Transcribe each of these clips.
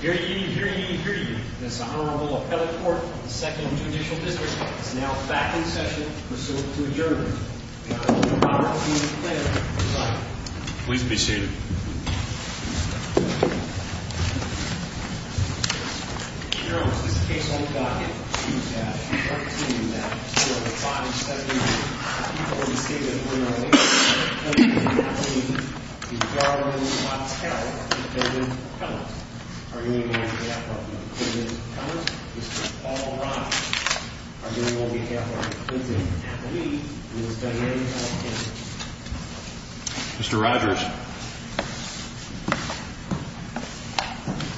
Here to you, here to you, here to you, is the Honorable Appellate Court of the 2nd Judicial District. It is now back in session to proceed to adjournment. The Honorable Robert E. Flair, presiding. Please be seated. Mr. Rogers, this case will be docketed for a brief time. If you would like to continue that, you have five seconds. Before we begin, I would like to introduce Mr. Anthony DiGiorno Votel, the defendant's appellant. Our hearing will be on behalf of the defendant's appellant, Mr. Paul Rogers. Our hearing will be on behalf of the defendant, Anthony, and his family and friends. Mr. Rogers,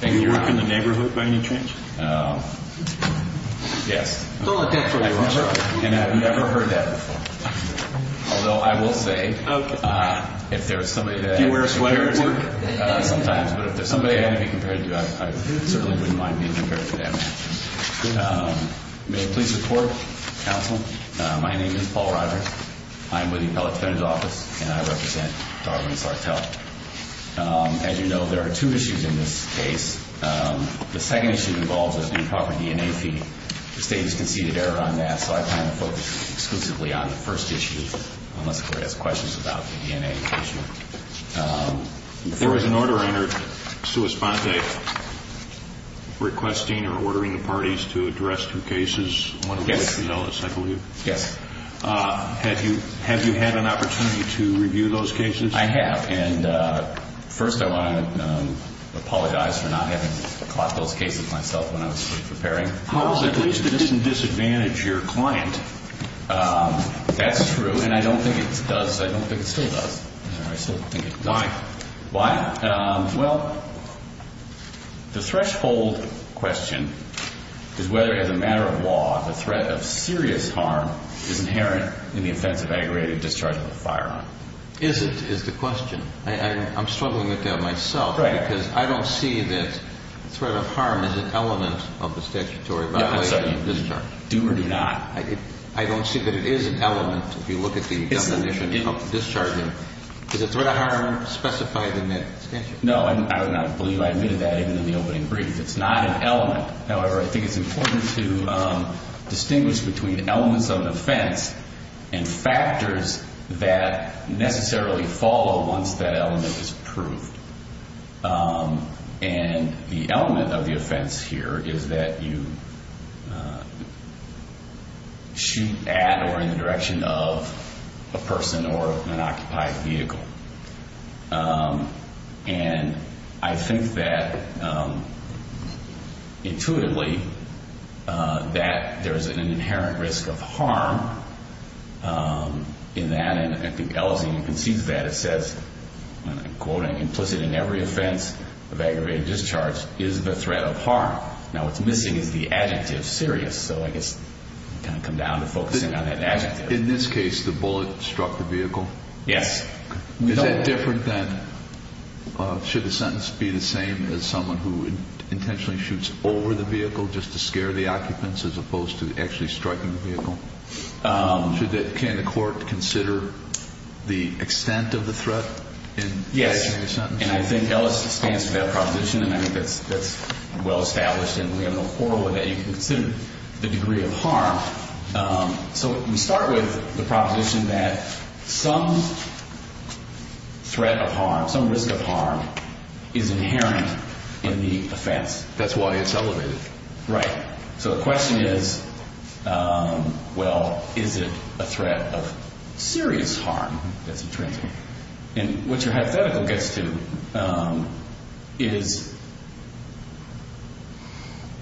do you work in the neighborhood by any chance? Yes. And I've never heard that before. Although I will say, if there is somebody that compares to you, I certainly wouldn't mind being compared to that man. May it please the Court, Counsel, my name is Paul Rogers, I'm with the Appellate Defendant's Office, and I represent Darwin Sartell. As you know, there are two issues in this case. The second issue involves an improper DNA feed. The State has conceded error on that, so I plan to focus exclusively on the first issue, unless the Court has questions about the DNA issue. There was an order entered, sua sponte, requesting or ordering the parties to address two cases, one of which was Ellis, I believe. Yes. Have you had an opportunity to review those cases? I have, and first I want to apologize for not having caught those cases myself when I was preparing. Well, at least it doesn't disadvantage your client. That's true, and I don't think it does, I don't think it still does. Why? Why? Well, the threshold question is whether, as a matter of law, the threat of serious harm is inherent in the offense of aggravated discharge of a firearm. Is it, is the question. I'm struggling with that myself, because I don't see that threat of harm is an element of the statutory violation of discharge. Do or do not. I don't see that it is an element, if you look at the definition of discharging. Is the threat of harm specified in that statute? No, I would not believe I admitted that, even in the opening brief. It's not an element. However, I think it's important to distinguish between elements of an offense and factors that necessarily follow once that element is proved. And the element of the offense here is that you shoot at or in the direction of a person or an occupied vehicle. And I think that, intuitively, that there is an inherent risk of harm in that. And I think Ellison concedes that. It says, and I'm quoting, implicit in every offense of aggravated discharge is the threat of harm. Now, what's missing is the adjective serious. So, I guess, kind of come down to focusing on that adjective. In this case, the bullet struck the vehicle? Yes. Is that different than, should the sentence be the same as someone who intentionally shoots over the vehicle just to scare the occupants, as opposed to actually striking the vehicle? Can the court consider the extent of the threat in that sentence? Yes. And I think Ellison stands for that proposition, and I think that's well-established. And we have an oral that you can consider the degree of harm. So, we start with the proposition that some threat of harm, some risk of harm, is inherent in the offense. That's why it's elevated. Right. So, the question is, well, is it a threat of serious harm that's intrinsic? And what your hypothetical gets to is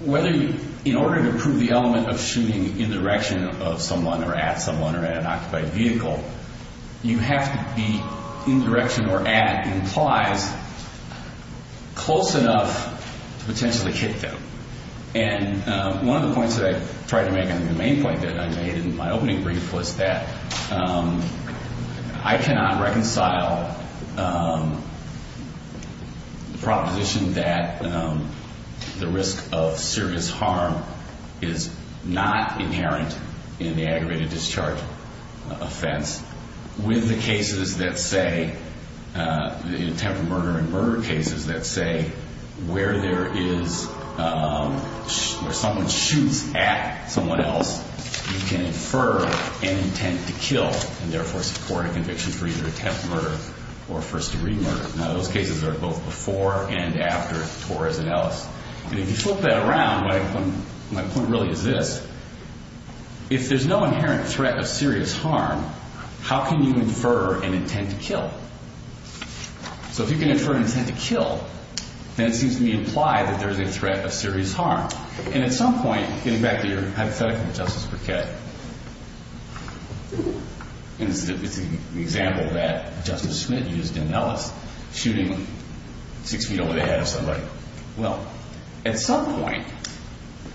whether you, in order to prove the element of shooting in the direction of someone or at someone or at an occupied vehicle, you have to be in the direction or at implies close enough to potentially kick them. And one of the points that I tried to make, and the main point that I made in my opening brief, was that I cannot reconcile the proposition that the risk of serious harm is not inherent in the aggravated discharge offense with the attempted murder and murder cases that say where someone shoots at someone else, you can infer an intent to kill and, therefore, support a conviction for either attempted murder or first-degree murder. Now, those cases are both before and after Torres and Ellis. And if you flip that around, my point really is this. If there's no inherent threat of serious harm, how can you infer an intent to kill? So, if you can infer an intent to kill, then it seems to me implied that there's a threat of serious harm. And at some point, getting back to your hypothetical, Justice Briquette, and it's an example that Justice Smith used in Ellis, shooting six feet over the head of somebody. Well, at some point,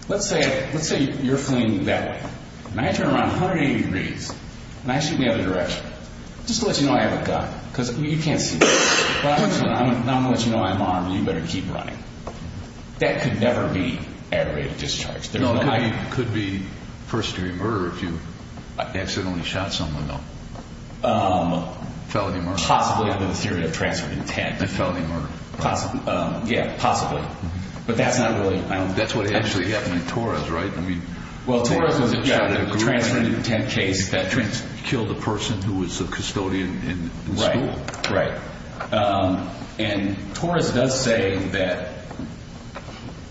let's say you're fleeing that way. And I turn around 180 degrees, and I shoot in the other direction. Just to let you know I have a gun because you can't see me. But I'm going to let you know I'm armed and you better keep running. That could never be aggravated discharge. It could be first-degree murder if you accidentally shot someone, though. Felony murder. Possibly under the theory of transferred intent. Felony murder. Yeah, possibly. But that's not really... That's what actually happened in Torres, right? Well, Torres was a transferred intent case that killed a person who was a custodian in the school. Right, right. And Torres does say that,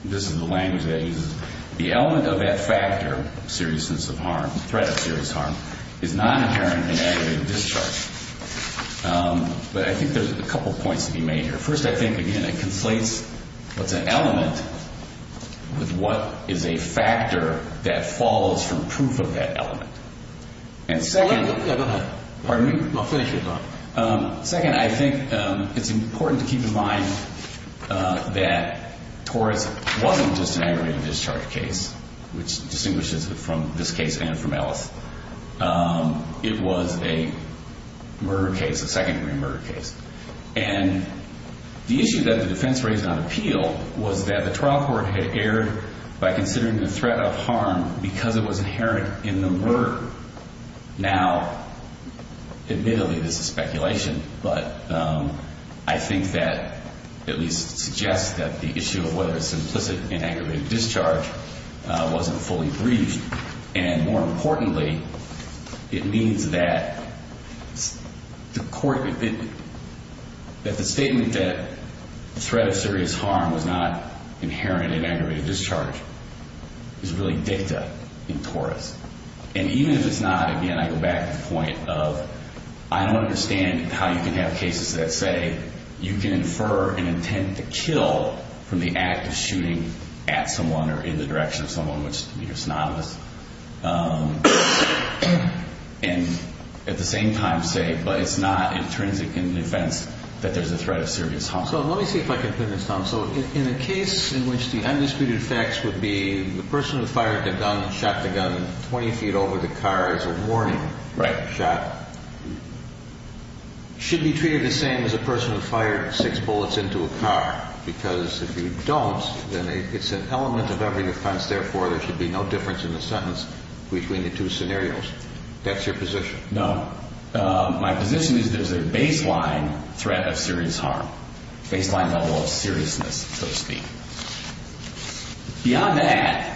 this is the language that he uses, the element of that factor, seriousness of harm, threat of serious harm, is not inherent in aggravated discharge. But I think there's a couple points to be made here. First, I think, again, it conflates what's an element with what is a factor that falls from proof of that element. And second... Yeah, go ahead. Pardon me? No, finish your thought. Second, I think it's important to keep in mind that Torres wasn't just an aggravated discharge case, which distinguishes it from this case and from Ellis. It was a murder case, a second-degree murder case. And the issue that the defense raised on appeal was that the trial court had erred by considering the threat of harm because it was inherent in the murder. Now, admittedly, this is speculation, but I think that at least suggests that the issue of whether it's implicit in aggravated discharge wasn't fully briefed. And more importantly, it means that the statement that the threat of serious harm was not inherent in aggravated discharge is really dicta in Torres. And even if it's not, again, I go back to the point of I don't understand how you can have cases that say you can infer an intent to kill from the act of shooting at someone or in the direction of someone, which is synonymous, and at the same time say, but it's not intrinsic in the defense that there's a threat of serious harm. So let me see if I can put this down. So in a case in which the undisputed facts would be the person who fired the gun and shot the gun 20 feet over the car is a warning shot should be treated the same as a person who fired six bullets into a car. Because if you don't, then it's an element of every defense. Therefore, there should be no difference in the sentence between the two scenarios. That's your position. No, my position is there's a baseline threat of serious harm, baseline level of seriousness, so to speak. Beyond that,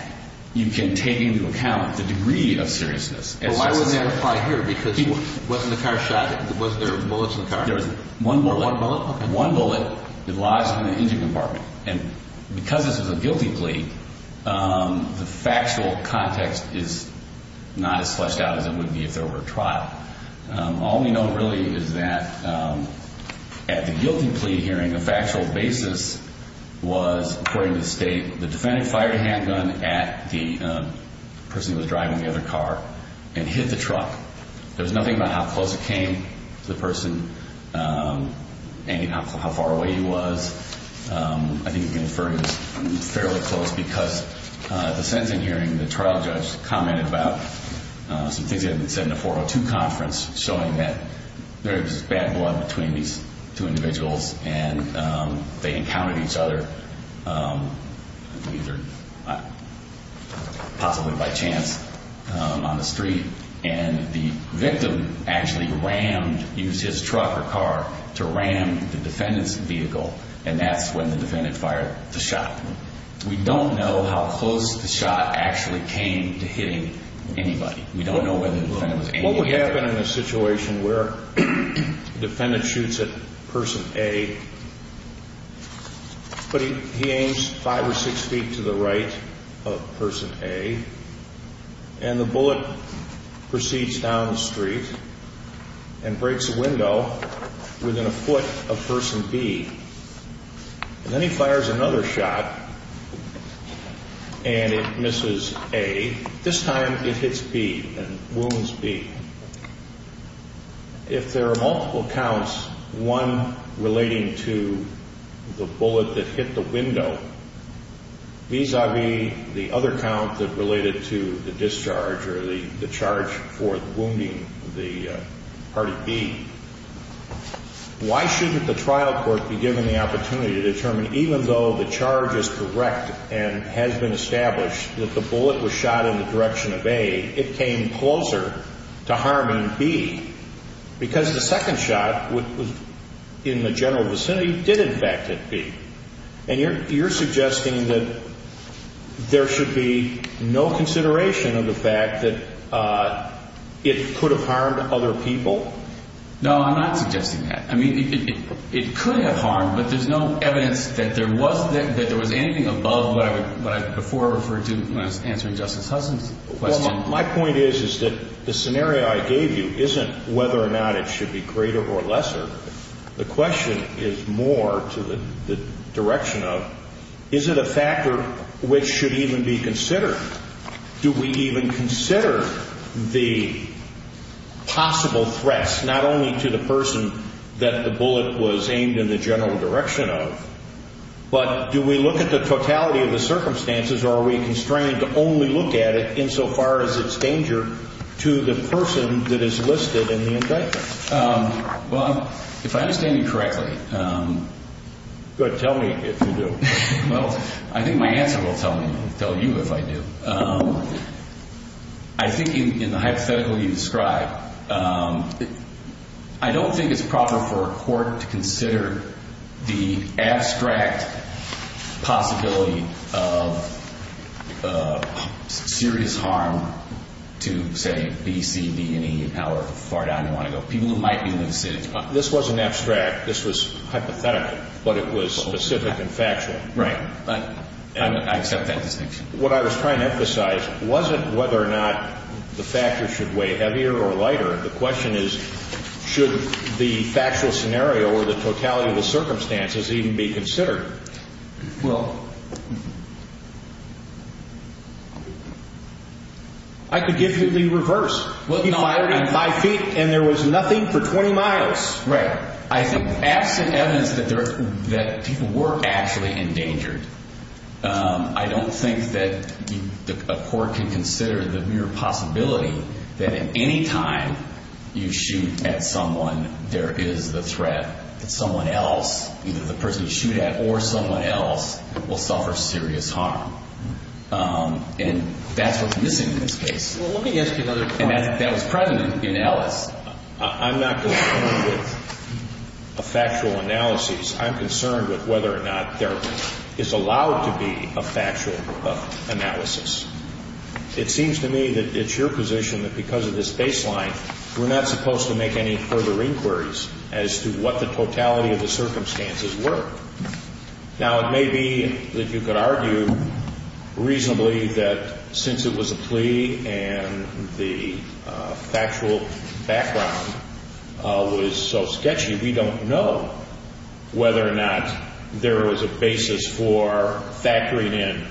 you can take into account the degree of seriousness. Why would that apply here? Because wasn't the car shot? Was there bullets in the car? There was one bullet. One bullet? One bullet. It lodged in the engine compartment. And because this was a guilty plea, the factual context is not as fleshed out as it would be if there were a trial. All we know really is that at the guilty plea hearing, the factual basis was, according to the state, the defendant fired a handgun at the person who was driving the other car and hit the truck. There was nothing about how close it came to the person and how far away he was. I think you can infer he was fairly close because at the sentencing hearing, the trial judge commented about some things that had been said in the 402 conference showing that there was bad blood between these two individuals and they encountered each other either possibly by chance on the street. And the victim actually rammed, used his truck or car to ram the defendant's vehicle, and that's when the defendant fired the shot. We don't know how close the shot actually came to hitting anybody. We don't know whether the defendant was aiming at anybody. What would happen in a situation where the defendant shoots at person A, but he aims five or six feet to the right of person A, and the bullet proceeds down the street and breaks a window within a foot of person B. And then he fires another shot and it misses A. This time it hits B and wounds B. If there are multiple counts, one relating to the bullet that hit the window, vis-a-vis the other count that related to the discharge or the charge for wounding the party B, why shouldn't the trial court be given the opportunity to determine even though the charge is correct and has been established that the bullet was shot in the direction of A, it came closer to harming B because the second shot in the general vicinity did infect B. And you're suggesting that there should be no consideration of the fact that it could have harmed other people No, I'm not suggesting that. I mean, it could have harmed, but there's no evidence that there was anything above what I before referred to when I was answering Justice Hudson's question. Well, my point is that the scenario I gave you isn't whether or not it should be greater or lesser. The question is more to the direction of is it a factor which should even be considered? Do we even consider the possible threats not only to the person that the bullet was aimed in the general direction of, but do we look at the totality of the circumstances, or are we constrained to only look at it insofar as it's danger to the person that is listed in the indictment? Well, if I understand you correctly... Good, tell me if you do. Well, I think my answer will tell you if I do. I think in the hypothetical you describe, I don't think it's proper for a court to consider the abstract possibility of serious harm to, say, B, C, D, and E, however far down you want to go, people who might be in the vicinity. This wasn't abstract. This was hypothetical, but it was specific and factual. Right, but I accept that distinction. What I was trying to emphasize wasn't whether or not the factor should weigh heavier or lighter. The question is should the factual scenario or the totality of the circumstances even be considered? Well... I could give you the reverse. He fired at five feet, and there was nothing for 20 miles. Right. Absent evidence that people were actually endangered, I don't think that a court can consider the mere possibility that at any time you shoot at someone, there is the threat that someone else, either the person you shoot at or someone else, will suffer serious harm. And that's what's missing in this case. Well, let me ask you another question. And that was present in Ellis. I'm not concerned with factual analyses. I'm concerned with whether or not there is allowed to be a factual analysis. It seems to me that it's your position that because of this baseline, we're not supposed to make any further inquiries as to what the totality of the circumstances were. Now, it may be that you could argue reasonably that since it was a plea and the factual background was so sketchy, we don't know whether or not there was a basis for factoring in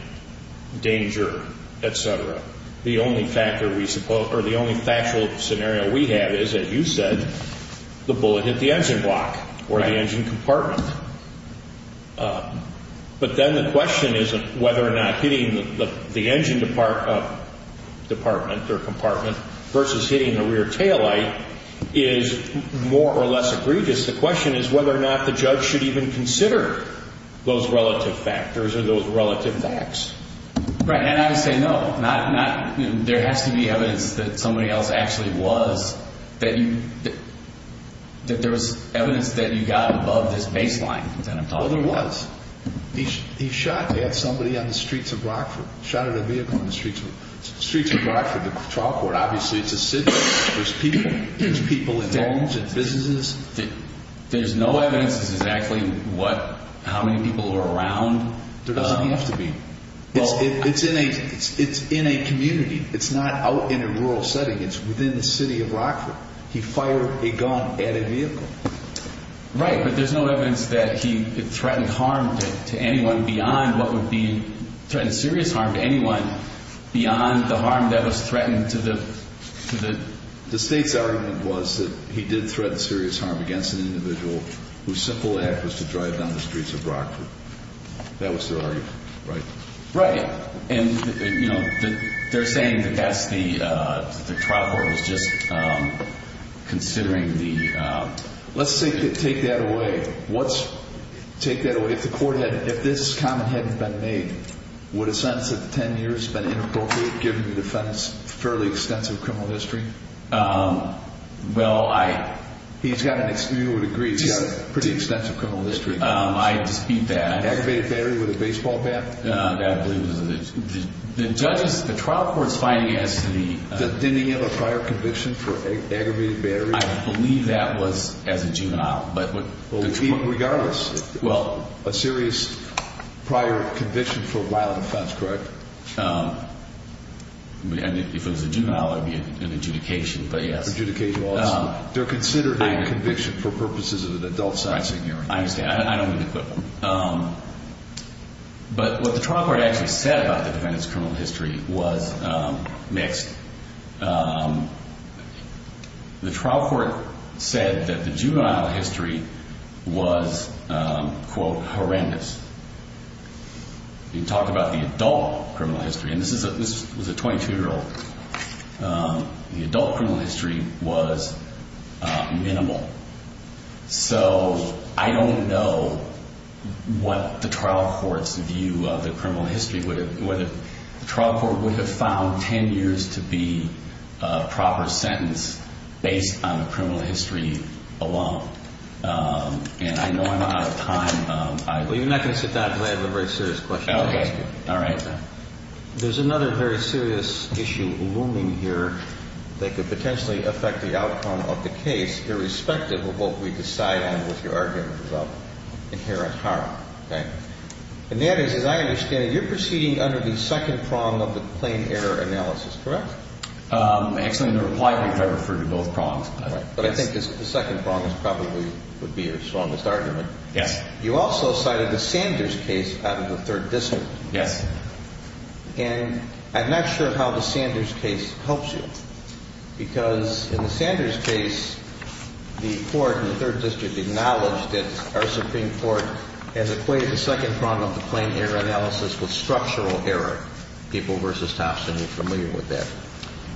danger, et cetera. The only factual scenario we have is, as you said, the bullet hit the engine block or the engine compartment. But then the question is whether or not hitting the engine department or compartment versus hitting the rear taillight is more or less egregious. The question is whether or not the judge should even consider those relative factors or those relative facts. Right. And I would say no. There has to be evidence that somebody else actually was, that there was evidence that you got above this baseline that I'm talking about. Well, there was. He shot at somebody on the streets of Rockford, shot at a vehicle on the streets of Rockford, the trial court. Obviously, it's a city. There's people in homes and businesses. There's no evidence as to exactly how many people were around. There doesn't have to be. It's in a community. It's not out in a rural setting. It's within the city of Rockford. He fired a gun at a vehicle. Right. But there's no evidence that he threatened harm to anyone beyond what would be, threatened serious harm to anyone beyond the harm that was threatened to the. The state's argument was that he did threaten serious harm against an individual whose simple act was to drive down the streets of Rockford. That was their argument, right? Right. And, you know, they're saying that that's the trial court was just considering the... Let's take that away. What's... take that away. If the court had... if this comment hadn't been made, would a sentence of 10 years have been inappropriate given the defendant's fairly extensive criminal history? Well, I... He's got an... you would agree he's got a pretty extensive criminal history. I dispute that. Aggravated battery with a baseball bat? That I believe was... the judges... the trial court's finding as to the... Didn't he have a prior conviction for aggravated battery? I believe that was as a juvenile, but... Regardless. Well... A serious prior conviction for a violent offense, correct? If it was a juvenile, it would be an adjudication, but yes. Adjudication also. They're considering a conviction for purposes of an adult-sourcing hearing. I understand. I don't mean to quip him. But what the trial court actually said about the defendant's criminal history was mixed. The trial court said that the juvenile history was, quote, horrendous. You can talk about the adult criminal history, and this was a 22-year-old. The adult criminal history was minimal. So I don't know what the trial court's view of the criminal history would have... The trial court would have found 10 years to be a proper sentence based on the criminal history alone. And I know I'm out of time. Well, you're not going to sit down until I have a very serious question to ask you. Okay. All right. There's another very serious issue looming here that could potentially affect the outcome of the case irrespective of what we decide on with your argument about inherent harm. And that is, as I understand it, you're proceeding under the second prong of the plain error analysis, correct? Actually, in the reply, I referred to both prongs. But I think the second prong probably would be your strongest argument. Yes. You also cited the Sanders case out of the Third District. Yes. And I'm not sure how the Sanders case helps you because in the Sanders case, the Court in the Third District acknowledged that our Supreme Court has equated the second prong of the plain error analysis with structural error. People versus Thompson are familiar with that.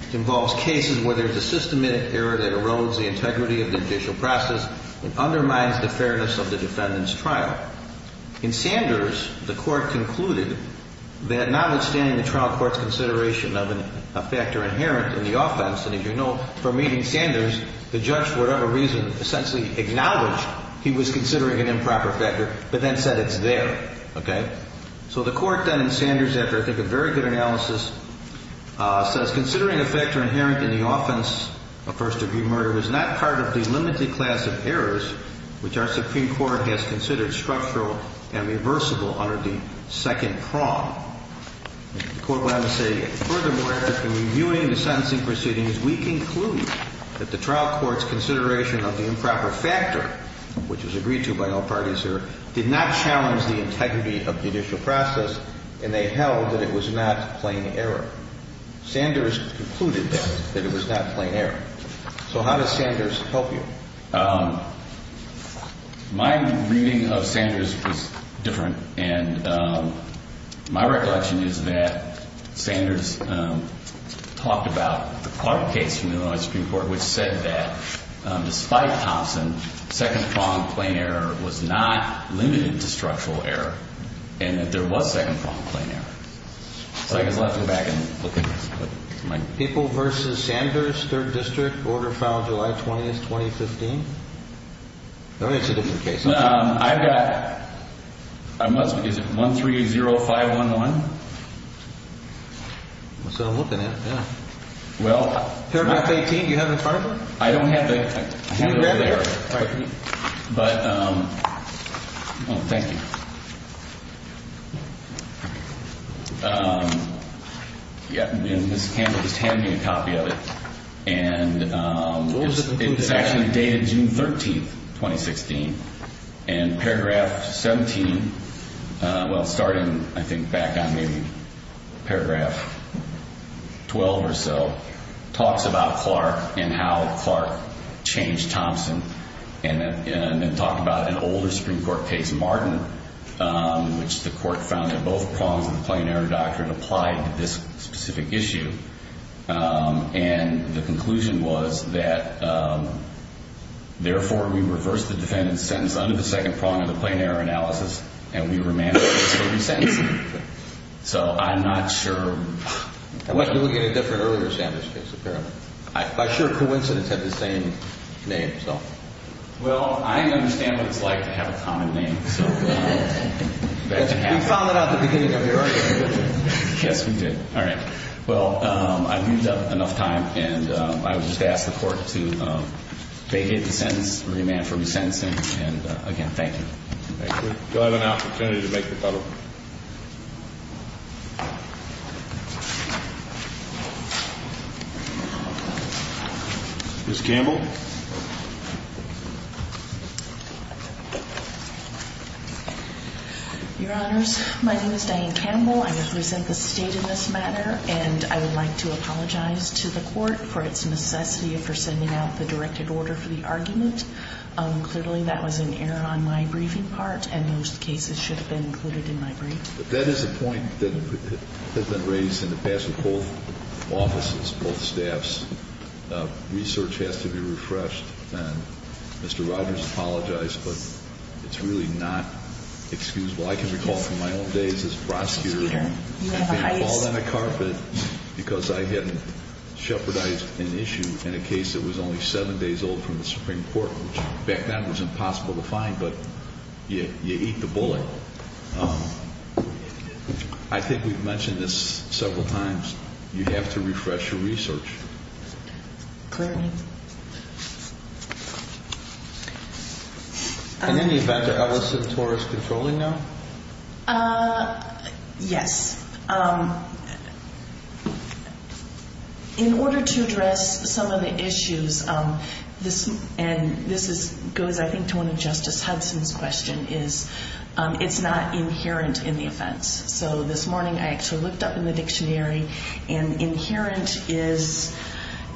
It involves cases where there's a systematic error that erodes the integrity of the judicial process and undermines the fairness of the defendant's trial. In Sanders, the Court concluded that notwithstanding the trial court's consideration of a factor inherent in the offense, and as you know from meeting Sanders, the judge, for whatever reason, essentially acknowledged he was considering an improper factor but then said it's there. Okay? So the Court then in Sanders, after I think a very good analysis, says considering a factor inherent in the offense of first-degree murder was not part of the limited class of errors which our Supreme Court has considered structural and reversible under the second prong. The Court went on to say, furthermore, after reviewing the sentencing proceedings, we conclude that the trial court's consideration of the improper factor, which was agreed to by all parties here, did not challenge the integrity of the judicial process, and they held that it was not plain error. Sanders concluded that it was not plain error. So how does Sanders help you? My reading of Sanders was different, and my recollection is that Sanders talked about the Clark case from the Illinois Supreme Court, which said that despite Thompson, second prong plain error was not limited to structural error, and that there was second prong plain error. So I guess I'll have to go back and look at this. People v. Sanders, 3rd District, order filed July 20th, 2015. It's a different case. I've got, is it 130511? That's what I'm looking at, yeah. Well. Paragraph 18, do you have it in front of you? I don't have that. Can you grab it here? All right. But, well, thank you. Yeah, and Ms. Campbell just handed me a copy of it. And it's actually dated June 13th, 2016. And paragraph 17, well, starting, I think, back on maybe paragraph 12 or so, talks about Clark and how Clark changed Thompson, and then talked about an older Supreme Court case, Martin, which the court found that both prongs of the plain error doctrine applied to this specific issue. And the conclusion was that, therefore, we reversed the defendant's sentence under the second prong of the plain error analysis, and we remanded the same sentence. So I'm not sure. I went to look at a different earlier Sanders case, apparently. But I'm sure coincidence had the same name, so. Well, I understand what it's like to have a common name. We found that out at the beginning of the argument, didn't we? Yes, we did. All right. Well, I've used up enough time, and I would just ask the court to vacate the sentence, remand for re-sentencing. And, again, thank you. Thank you. Do I have an opportunity to make the follow-up? Ms. Campbell? Your Honors, my name is Diane Campbell. I represent the State in this matter, and I would like to apologize to the court for its necessity for sending out the directed order for the argument. Clearly, that was an error on my briefing part, and those cases should have been included in my brief. That is a point that has been raised in the past with both offices, both staffs. Research has to be refreshed, and Mr. Rogers, I apologize, but it's really not excusable. I can recall from my own days as a prosecutor, because I had shepherdized an issue in a case that was only seven days old from the Supreme Court, which back then was impossible to find, but you eat the bullet. I think we've mentioned this several times. You have to refresh your research. Clearly. In any event, are Ellis and Torres controlling now? Yes. In order to address some of the issues, and this goes, I think, to one of Justice Hudson's questions, is it's not inherent in the offense. So this morning, I actually looked up in the dictionary, and inherent is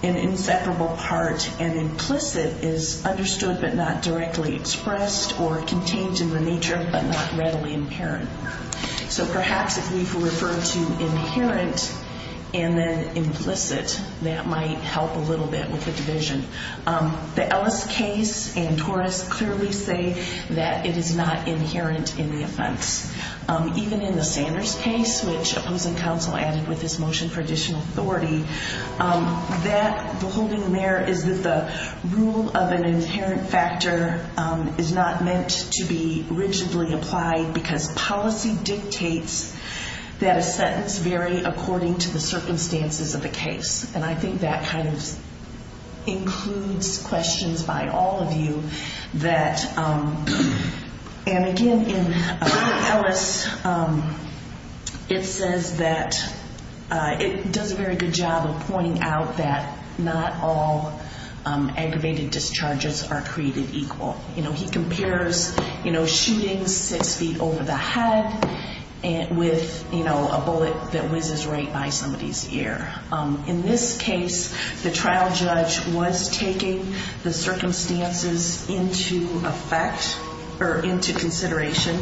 an inseparable part, and implicit is understood but not directly expressed or contained in the nature but not readily inherent. So perhaps if we refer to inherent and then implicit, that might help a little bit with the division. The Ellis case and Torres clearly say that it is not inherent in the offense. Even in the Sanders case, which opposing counsel added with this motion for additional authority, the holding there is that the rule of an inherent factor is not meant to be rigidly applied because policy dictates that a sentence vary according to the circumstances of the case. And I think that kind of includes questions by all of you. And again, in Ellis, it says that it does a very good job of pointing out that not all aggravated discharges are created equal. You know, he compares, you know, shooting six feet over the head with, you know, a bullet that whizzes right by somebody's ear. In this case, the trial judge was taking the circumstances into effect or into consideration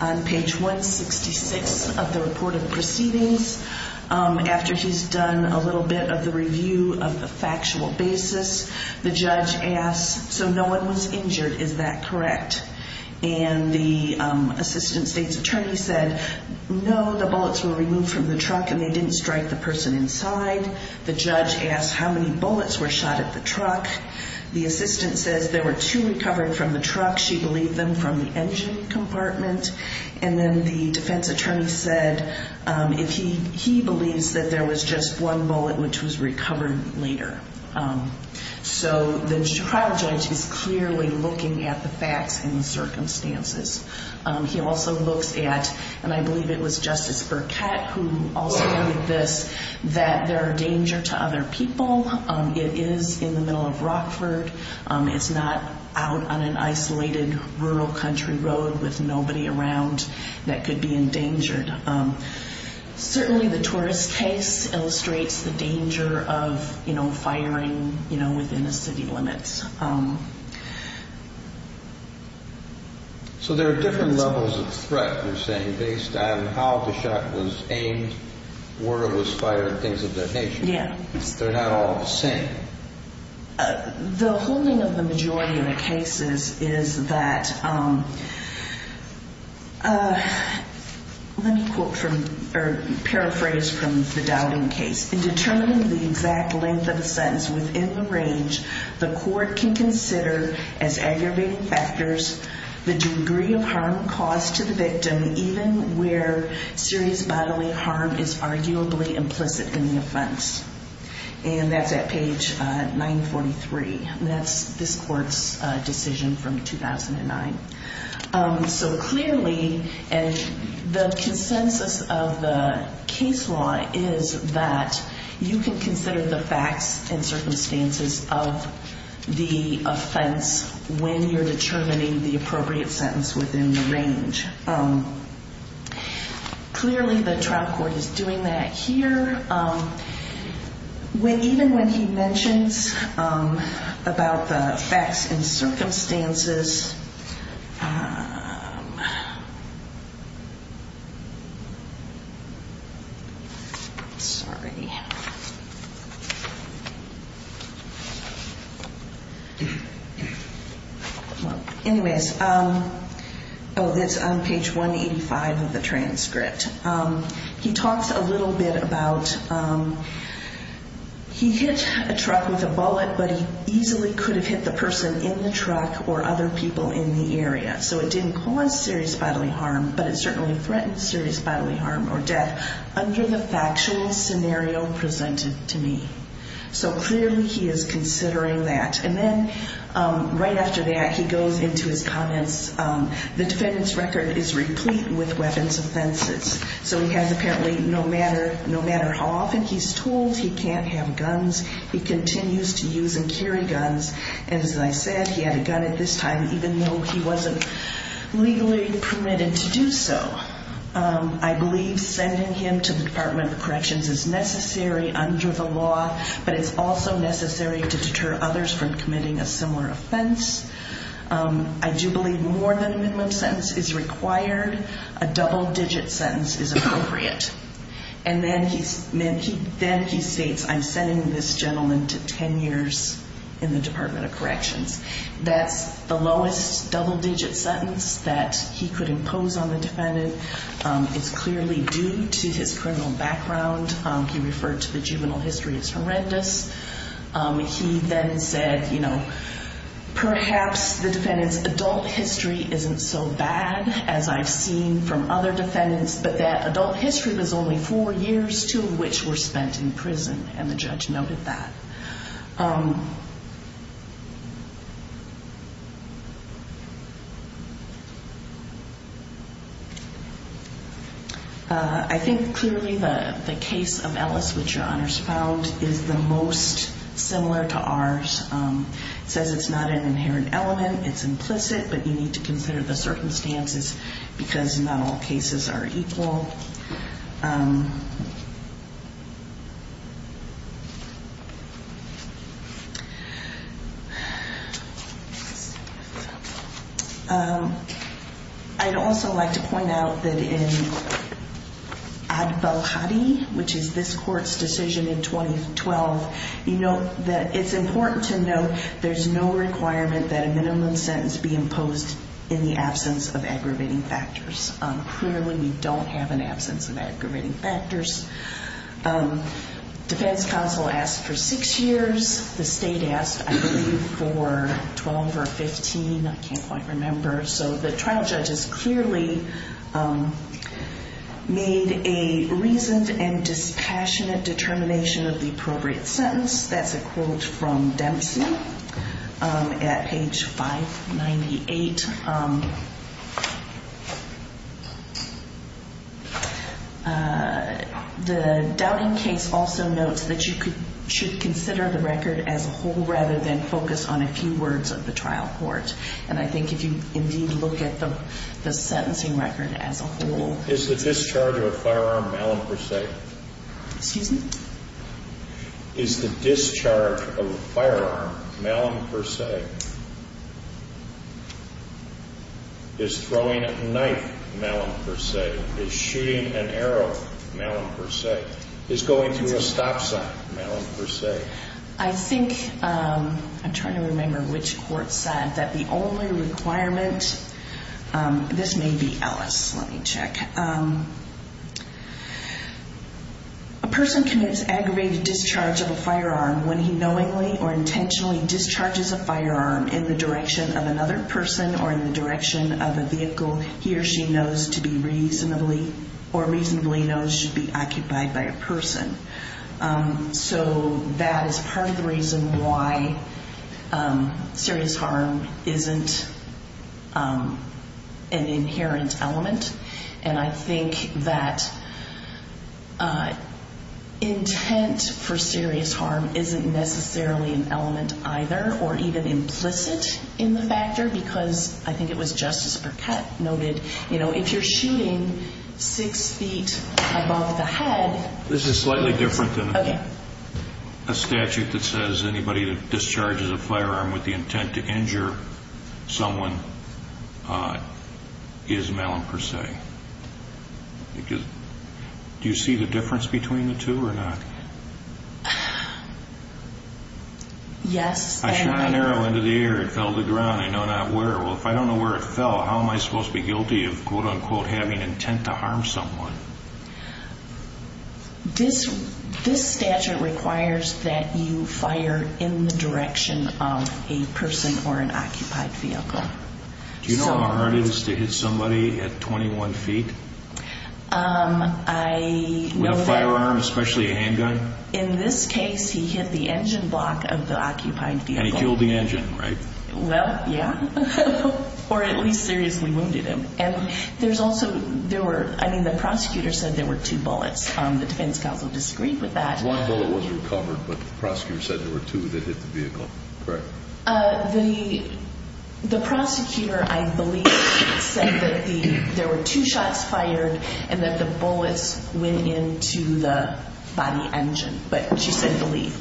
on page 166 of the report of proceedings. After he's done a little bit of the review of the factual basis, the judge asks, so no one was injured, is that correct? And the assistant state's attorney said, no, the bullets were removed from the truck and they didn't strike the person inside. The judge asked how many bullets were shot at the truck. The assistant says there were two recovered from the truck. She believed them from the engine compartment. And then the defense attorney said he believes that there was just one bullet which was recovered later. So the trial judge is clearly looking at the facts and the circumstances. He also looks at, and I believe it was Justice Burkett who also noted this, that there are danger to other people. It is in the middle of Rockford. There are people who are walking around that could be endangered. Certainly the tourist case illustrates the danger of, you know, firing, you know, within a city limits. So there are different levels of threat, you're saying, based on how the shot was aimed, where it was fired, things of that nature. Yeah. They're not all the same. The whole thing of the majority of the cases is that, let me paraphrase from the Dowling case. In determining the exact length of a sentence within the range, the court can consider as aggravating factors the degree of harm caused to the victim, even where serious bodily harm is arguably implicit in the offense. And that's at page 943, and that's this court's decision from 2009. So clearly, and the consensus of the case law is that you can consider the facts and circumstances of the offense when you're determining the appropriate sentence within the range. Clearly the trial court is doing that here. Even when he mentions about the facts and circumstances... Sorry. Anyway, this is on page 185 of the transcript. He talks a little bit about he hit a truck with a bullet, but he easily could have hit the person in the truck or other people in the area. So it didn't cause serious bodily harm, but it certainly threatened serious bodily harm or death. Under the factual scenario presented to me. So clearly he is considering that. And then right after that, he goes into his comments. The defendant's record is replete with weapons offenses. So he has apparently, no matter how often he's told he can't have guns, he continues to use and carry guns. As I said, he had a gun at this time, even though he wasn't legally permitted to do so. I believe sending him to the Department of Corrections is necessary under the law, but it's also necessary to deter others from committing a similar offense. I do believe more than a minimum sentence is required. A double-digit sentence is appropriate. And then he states, I'm sending this gentleman to 10 years in the Department of Corrections. That's the lowest double-digit sentence that he could impose on the defendant. It's clearly due to his criminal background. He referred to the juvenile history as horrendous. He then said, you know, perhaps the defendant's adult history isn't so bad as I've seen from other defendants, but that adult history was only four years, two of which were spent in prison, and the judge noted that. I think clearly the case of Ellis, which Your Honors found, is the most similar to ours. It says it's not an inherent element, it's implicit, but you need to consider the circumstances, because not all cases are equal. I'd also like to point out that in Ad Belhadi, which is this court's decision in 2012, you note that it's important to note there's no requirement that a minimum sentence be imposed in the absence of aggravating factors. Clearly we don't have an absence of aggravating factors. Defense counsel asked for six years, the state asked, I believe, for 12 or 15, I can't quite remember. So the trial judges clearly made a reasoned and dispassionate determination of the appropriate sentence. That's a quote from Dempsey at page 598. The doubting case also notes that you should consider the record as a whole rather than focus on a few words of the trial court. And I think if you indeed look at the sentencing record as a whole. Is the discharge of a firearm malin per se? Is throwing a knife malin per se? Is shooting an arrow malin per se? Is going through a stop sign malin per se? I think, I'm trying to remember which court said that the only requirement, this may be Ellis, let me check. A person commits aggravated discharge of a firearm when he knowingly or intentionally discharges a firearm in the direction of another person or in the direction of a vehicle he or she knows to be reasonably or reasonably knows should be occupied by a person. So that is part of the reason why serious harm isn't an inherent element. And I think that intent for serious harm isn't necessarily an element either or even implicit in the factor. Because I think it was Justice Burkett noted, you know, if you're shooting six feet above the head. This is slightly different than a statute that says anybody that discharges a firearm with the intent to injure someone is malin per se. Do you see the difference between the two or not? Yes. I shot an arrow into the air, it fell to the ground, I know not where. Well, if I don't know where it fell, how am I supposed to be guilty of quote unquote having intent to harm someone? This statute requires that you fire in the direction of a person or an occupied vehicle. Do you know how hard it is to hit somebody at 21 feet? With a firearm, especially a handgun? In this case, he hit the engine block of the occupied vehicle. And he killed the engine, right? Well, yeah, or at least seriously wounded him. And there's also, there were, I mean, the prosecutor said there were two bullets. The defense counsel disagreed with that. One bullet was recovered, but the prosecutor said there were two that hit the vehicle, correct? The prosecutor, I believe, said that there were two shots fired and that the bullets went into the body engine. But she said believe.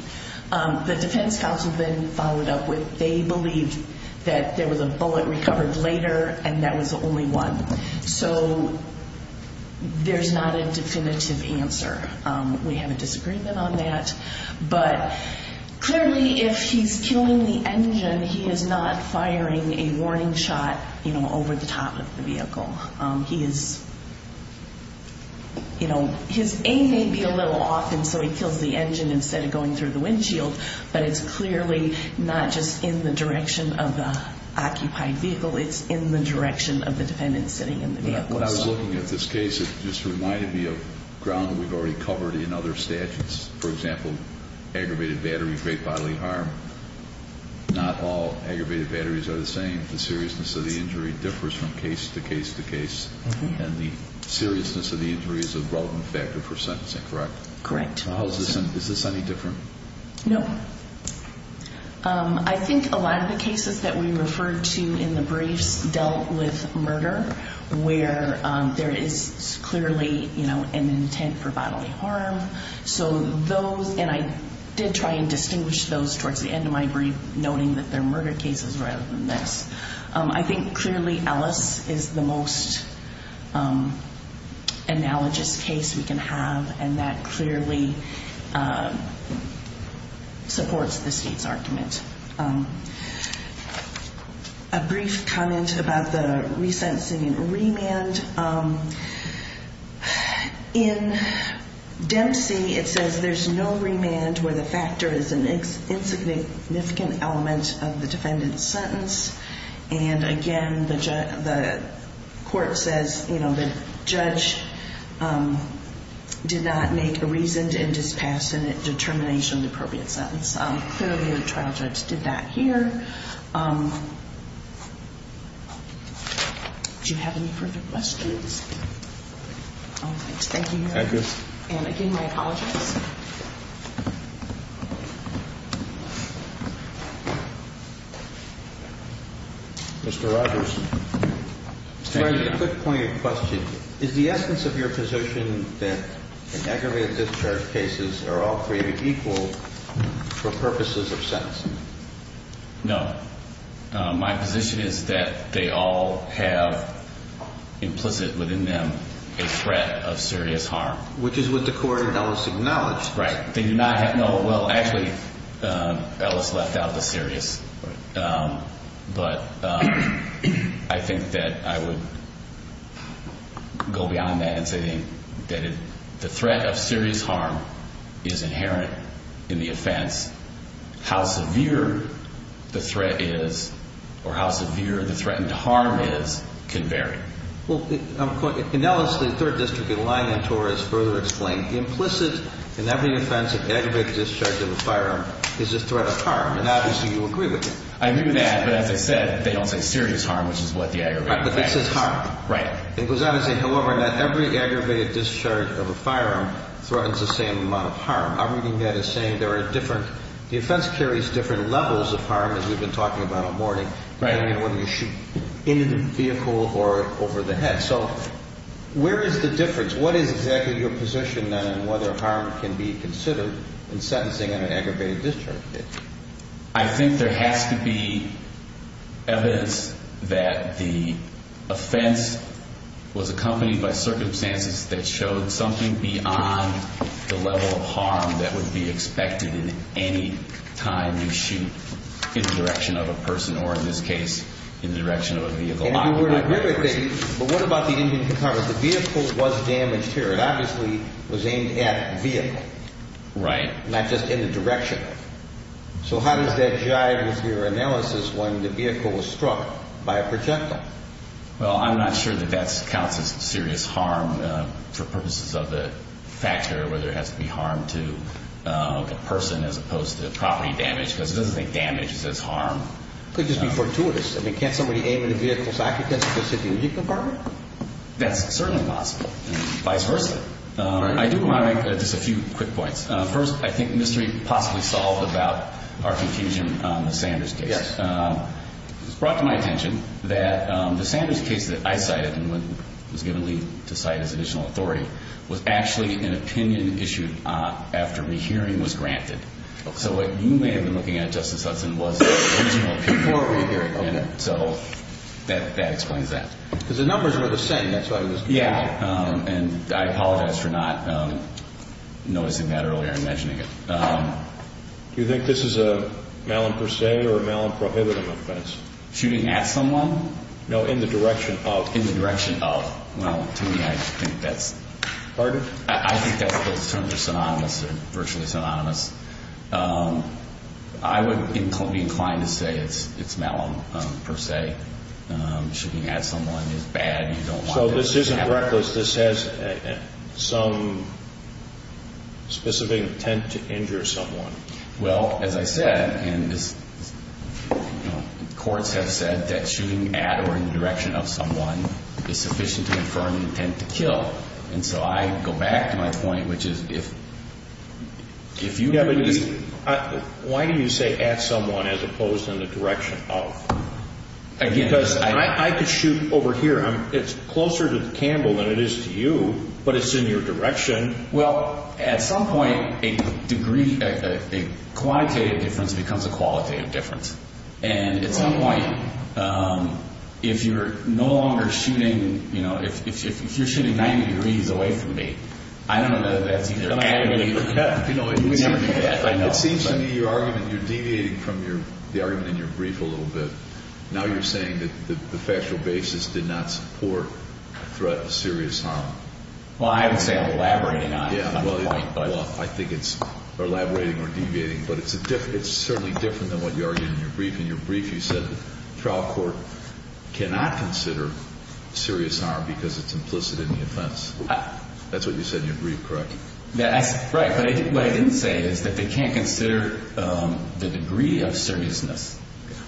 The defense counsel then followed up with they believed that there was a bullet recovered later and that was the only one. So there's not a definitive answer. We have a disagreement on that. But clearly, if he's killing the engine, he is not firing a warning shot, you know, over the top of the vehicle. He is, you know, his aim may be a little off, and so he kills the engine instead of going through the windshield. But it's clearly not just in the direction of the occupied vehicle. It's in the direction of the defendant sitting in the vehicle. When I was looking at this case, it just reminded me of ground we've already covered in other statutes. For example, aggravated battery, great bodily harm. Not all aggravated batteries are the same. The seriousness of the injury differs from case to case to case. And the seriousness of the injury is a relevant factor for sentencing, correct? Correct. Is this any different? No. I think a lot of the cases that we referred to in the briefs dealt with murder, where there is clearly, you know, an intent for bodily harm. So those, and I did try and distinguish those towards the end of my brief, noting that they're murder cases rather than this. I think clearly Ellis is the most analogous case we can have, and that clearly supports the state's argument. A brief comment about the resentencing and remand. In Dempsey, it says there's no remand where the factor is an insignificant element of the defendant's sentence. And again, the court says, you know, the judge did not make a reasoned and dispassionate determination of the appropriate sentence. Clearly, the trial judge did that here. Do you have any further questions? Thank you. And again, my apologies. Mr. Rogers. Mr. Rogers, a quick point of question. Is the essence of your position that the aggravated discharge cases are all created equal for purposes of sentencing? No. My position is that they all have implicit within them a threat of serious harm. Which is what the court in Ellis acknowledged. Well, actually, Ellis left out the serious. But I think that I would go beyond that and say that the threat of serious harm is inherent in the offense. How severe the threat is, or how severe the threatened harm is, can vary. Well, in Ellis, the third district in line on TOR has further explained the implicit in every offense of aggravated discharge of a firearm is a threat of harm. And obviously, you agree with that. I agree with that. But as I said, they don't say serious harm, which is what the aggravated... It says harm. It goes on to say, however, that every aggravated discharge of a firearm threatens the same amount of harm. I'm reading that as saying there are different... The offense carries different levels of harm, as we've been talking about all morning, depending on whether you shoot into the vehicle or over the head. So where is the difference? What is exactly your position, then, on whether harm can be considered in sentencing an aggravated discharge case? I think there has to be evidence that the offense was accompanied by circumstances that showed something beyond the level of harm that would be expected in any time you shoot in the direction of a person, or in this case, in the direction of a vehicle. But what about the Indian car? The vehicle was damaged here. It obviously was aimed at the vehicle. Right. Not just in the direction. So how does that jive with your analysis when the vehicle was struck by a projectile? Well, I'm not sure that that counts as serious harm for purposes of the factor where there has to be harm to the person, as opposed to property damage, because it doesn't think damage is as harm. It could just be fortuitous. I mean, can't somebody aim at a vehicle's occupant just to hit the engine compartment? That's certainly possible, and vice versa. I do want to make just a few quick points. First, I think the mystery possibly solved about our confusion on the Sanders case. Yes. It's brought to my attention that the Sanders case that I cited, and was given leave to cite as additional authority, was actually an opinion issued after rehearing was granted. Okay. So what you may have been looking at, Justice Hudson, was the original before rehearing. Okay. So that explains that. Because the numbers were the same. That's why I was confused. Yeah. And I apologize for not noticing that earlier and mentioning it. Do you think this is a malin per se or a malin prohibitive offense? Shooting at someone? No, in the direction of. In the direction of. Well, to me, I think that's. Pardon? I think those terms are synonymous. They're virtually synonymous. I would be inclined to say it's malin per se. Shooting at someone is bad. You don't want that to happen. So this isn't reckless. This has some specific intent to injure someone. Well, as I said, and this courts have said that shooting at or in the direction of someone is sufficient to confirm the intent to kill. And so I go back to my point, which is if you. Yeah, but why do you say at someone as opposed to in the direction of? Because I could shoot over here. It's closer to the candle than it is to you, but it's in your direction. Well, at some point, a degree, a quantitative difference becomes a qualitative difference. And at some point, if you're no longer shooting, you know, if you're shooting 90 degrees away from me, I don't know that that's either and you know, it seems to me you're deviating from your argument in your brief a little bit. Now you're saying that the factual basis did not support threat of serious harm. Well, I would say I'm elaborating on it. Well, I think it's elaborating or deviating, but it's certainly different than what you argued in your brief. In your brief, you said the trial court cannot consider serious harm because it's implicit in the offense. That's what you said in your brief, correct? Right, but what I didn't say is that they can't consider the degree of seriousness.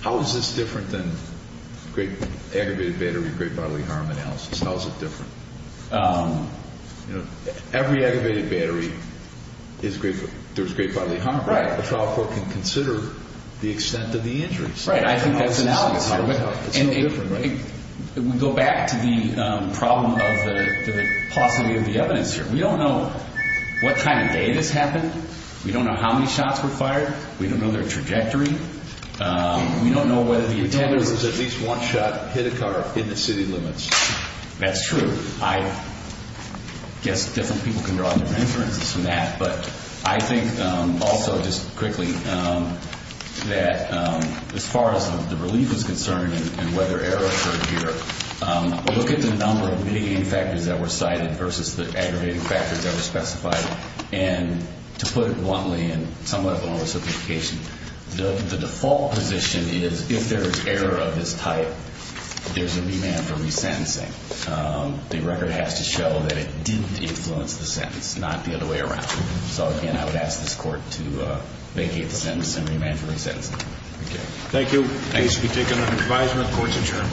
How is this different than aggravated battery great bodily harm analysis? How is it different? Every aggravated battery, there's great bodily harm, right? The trial court can consider the extent of the injuries. Right, I think that's analogous. It's no different, right? We go back to the problem of the paucity of the evidence here. We don't know what kind of day this happened. We don't know how many shots were fired. We don't know their trajectory. We don't know whether the attacker was at least one shot, hit a car, hit the city limits. That's true. I guess different people can draw different inferences from that, but I think also just quickly that as far as the relief is concerned and whether error occurred here, look at the number of mitigating factors that were cited versus the aggravating factors that were specified and to put it bluntly and somewhat with more simplification, the default position is if there is error of this type, there's a remand for resentencing. The record has to show that it did influence the sentence, not the other way around. So again, I would ask this court to vacate the sentence and remand for resentencing. Thank you. I ask that we take another advisement. The court is adjourned.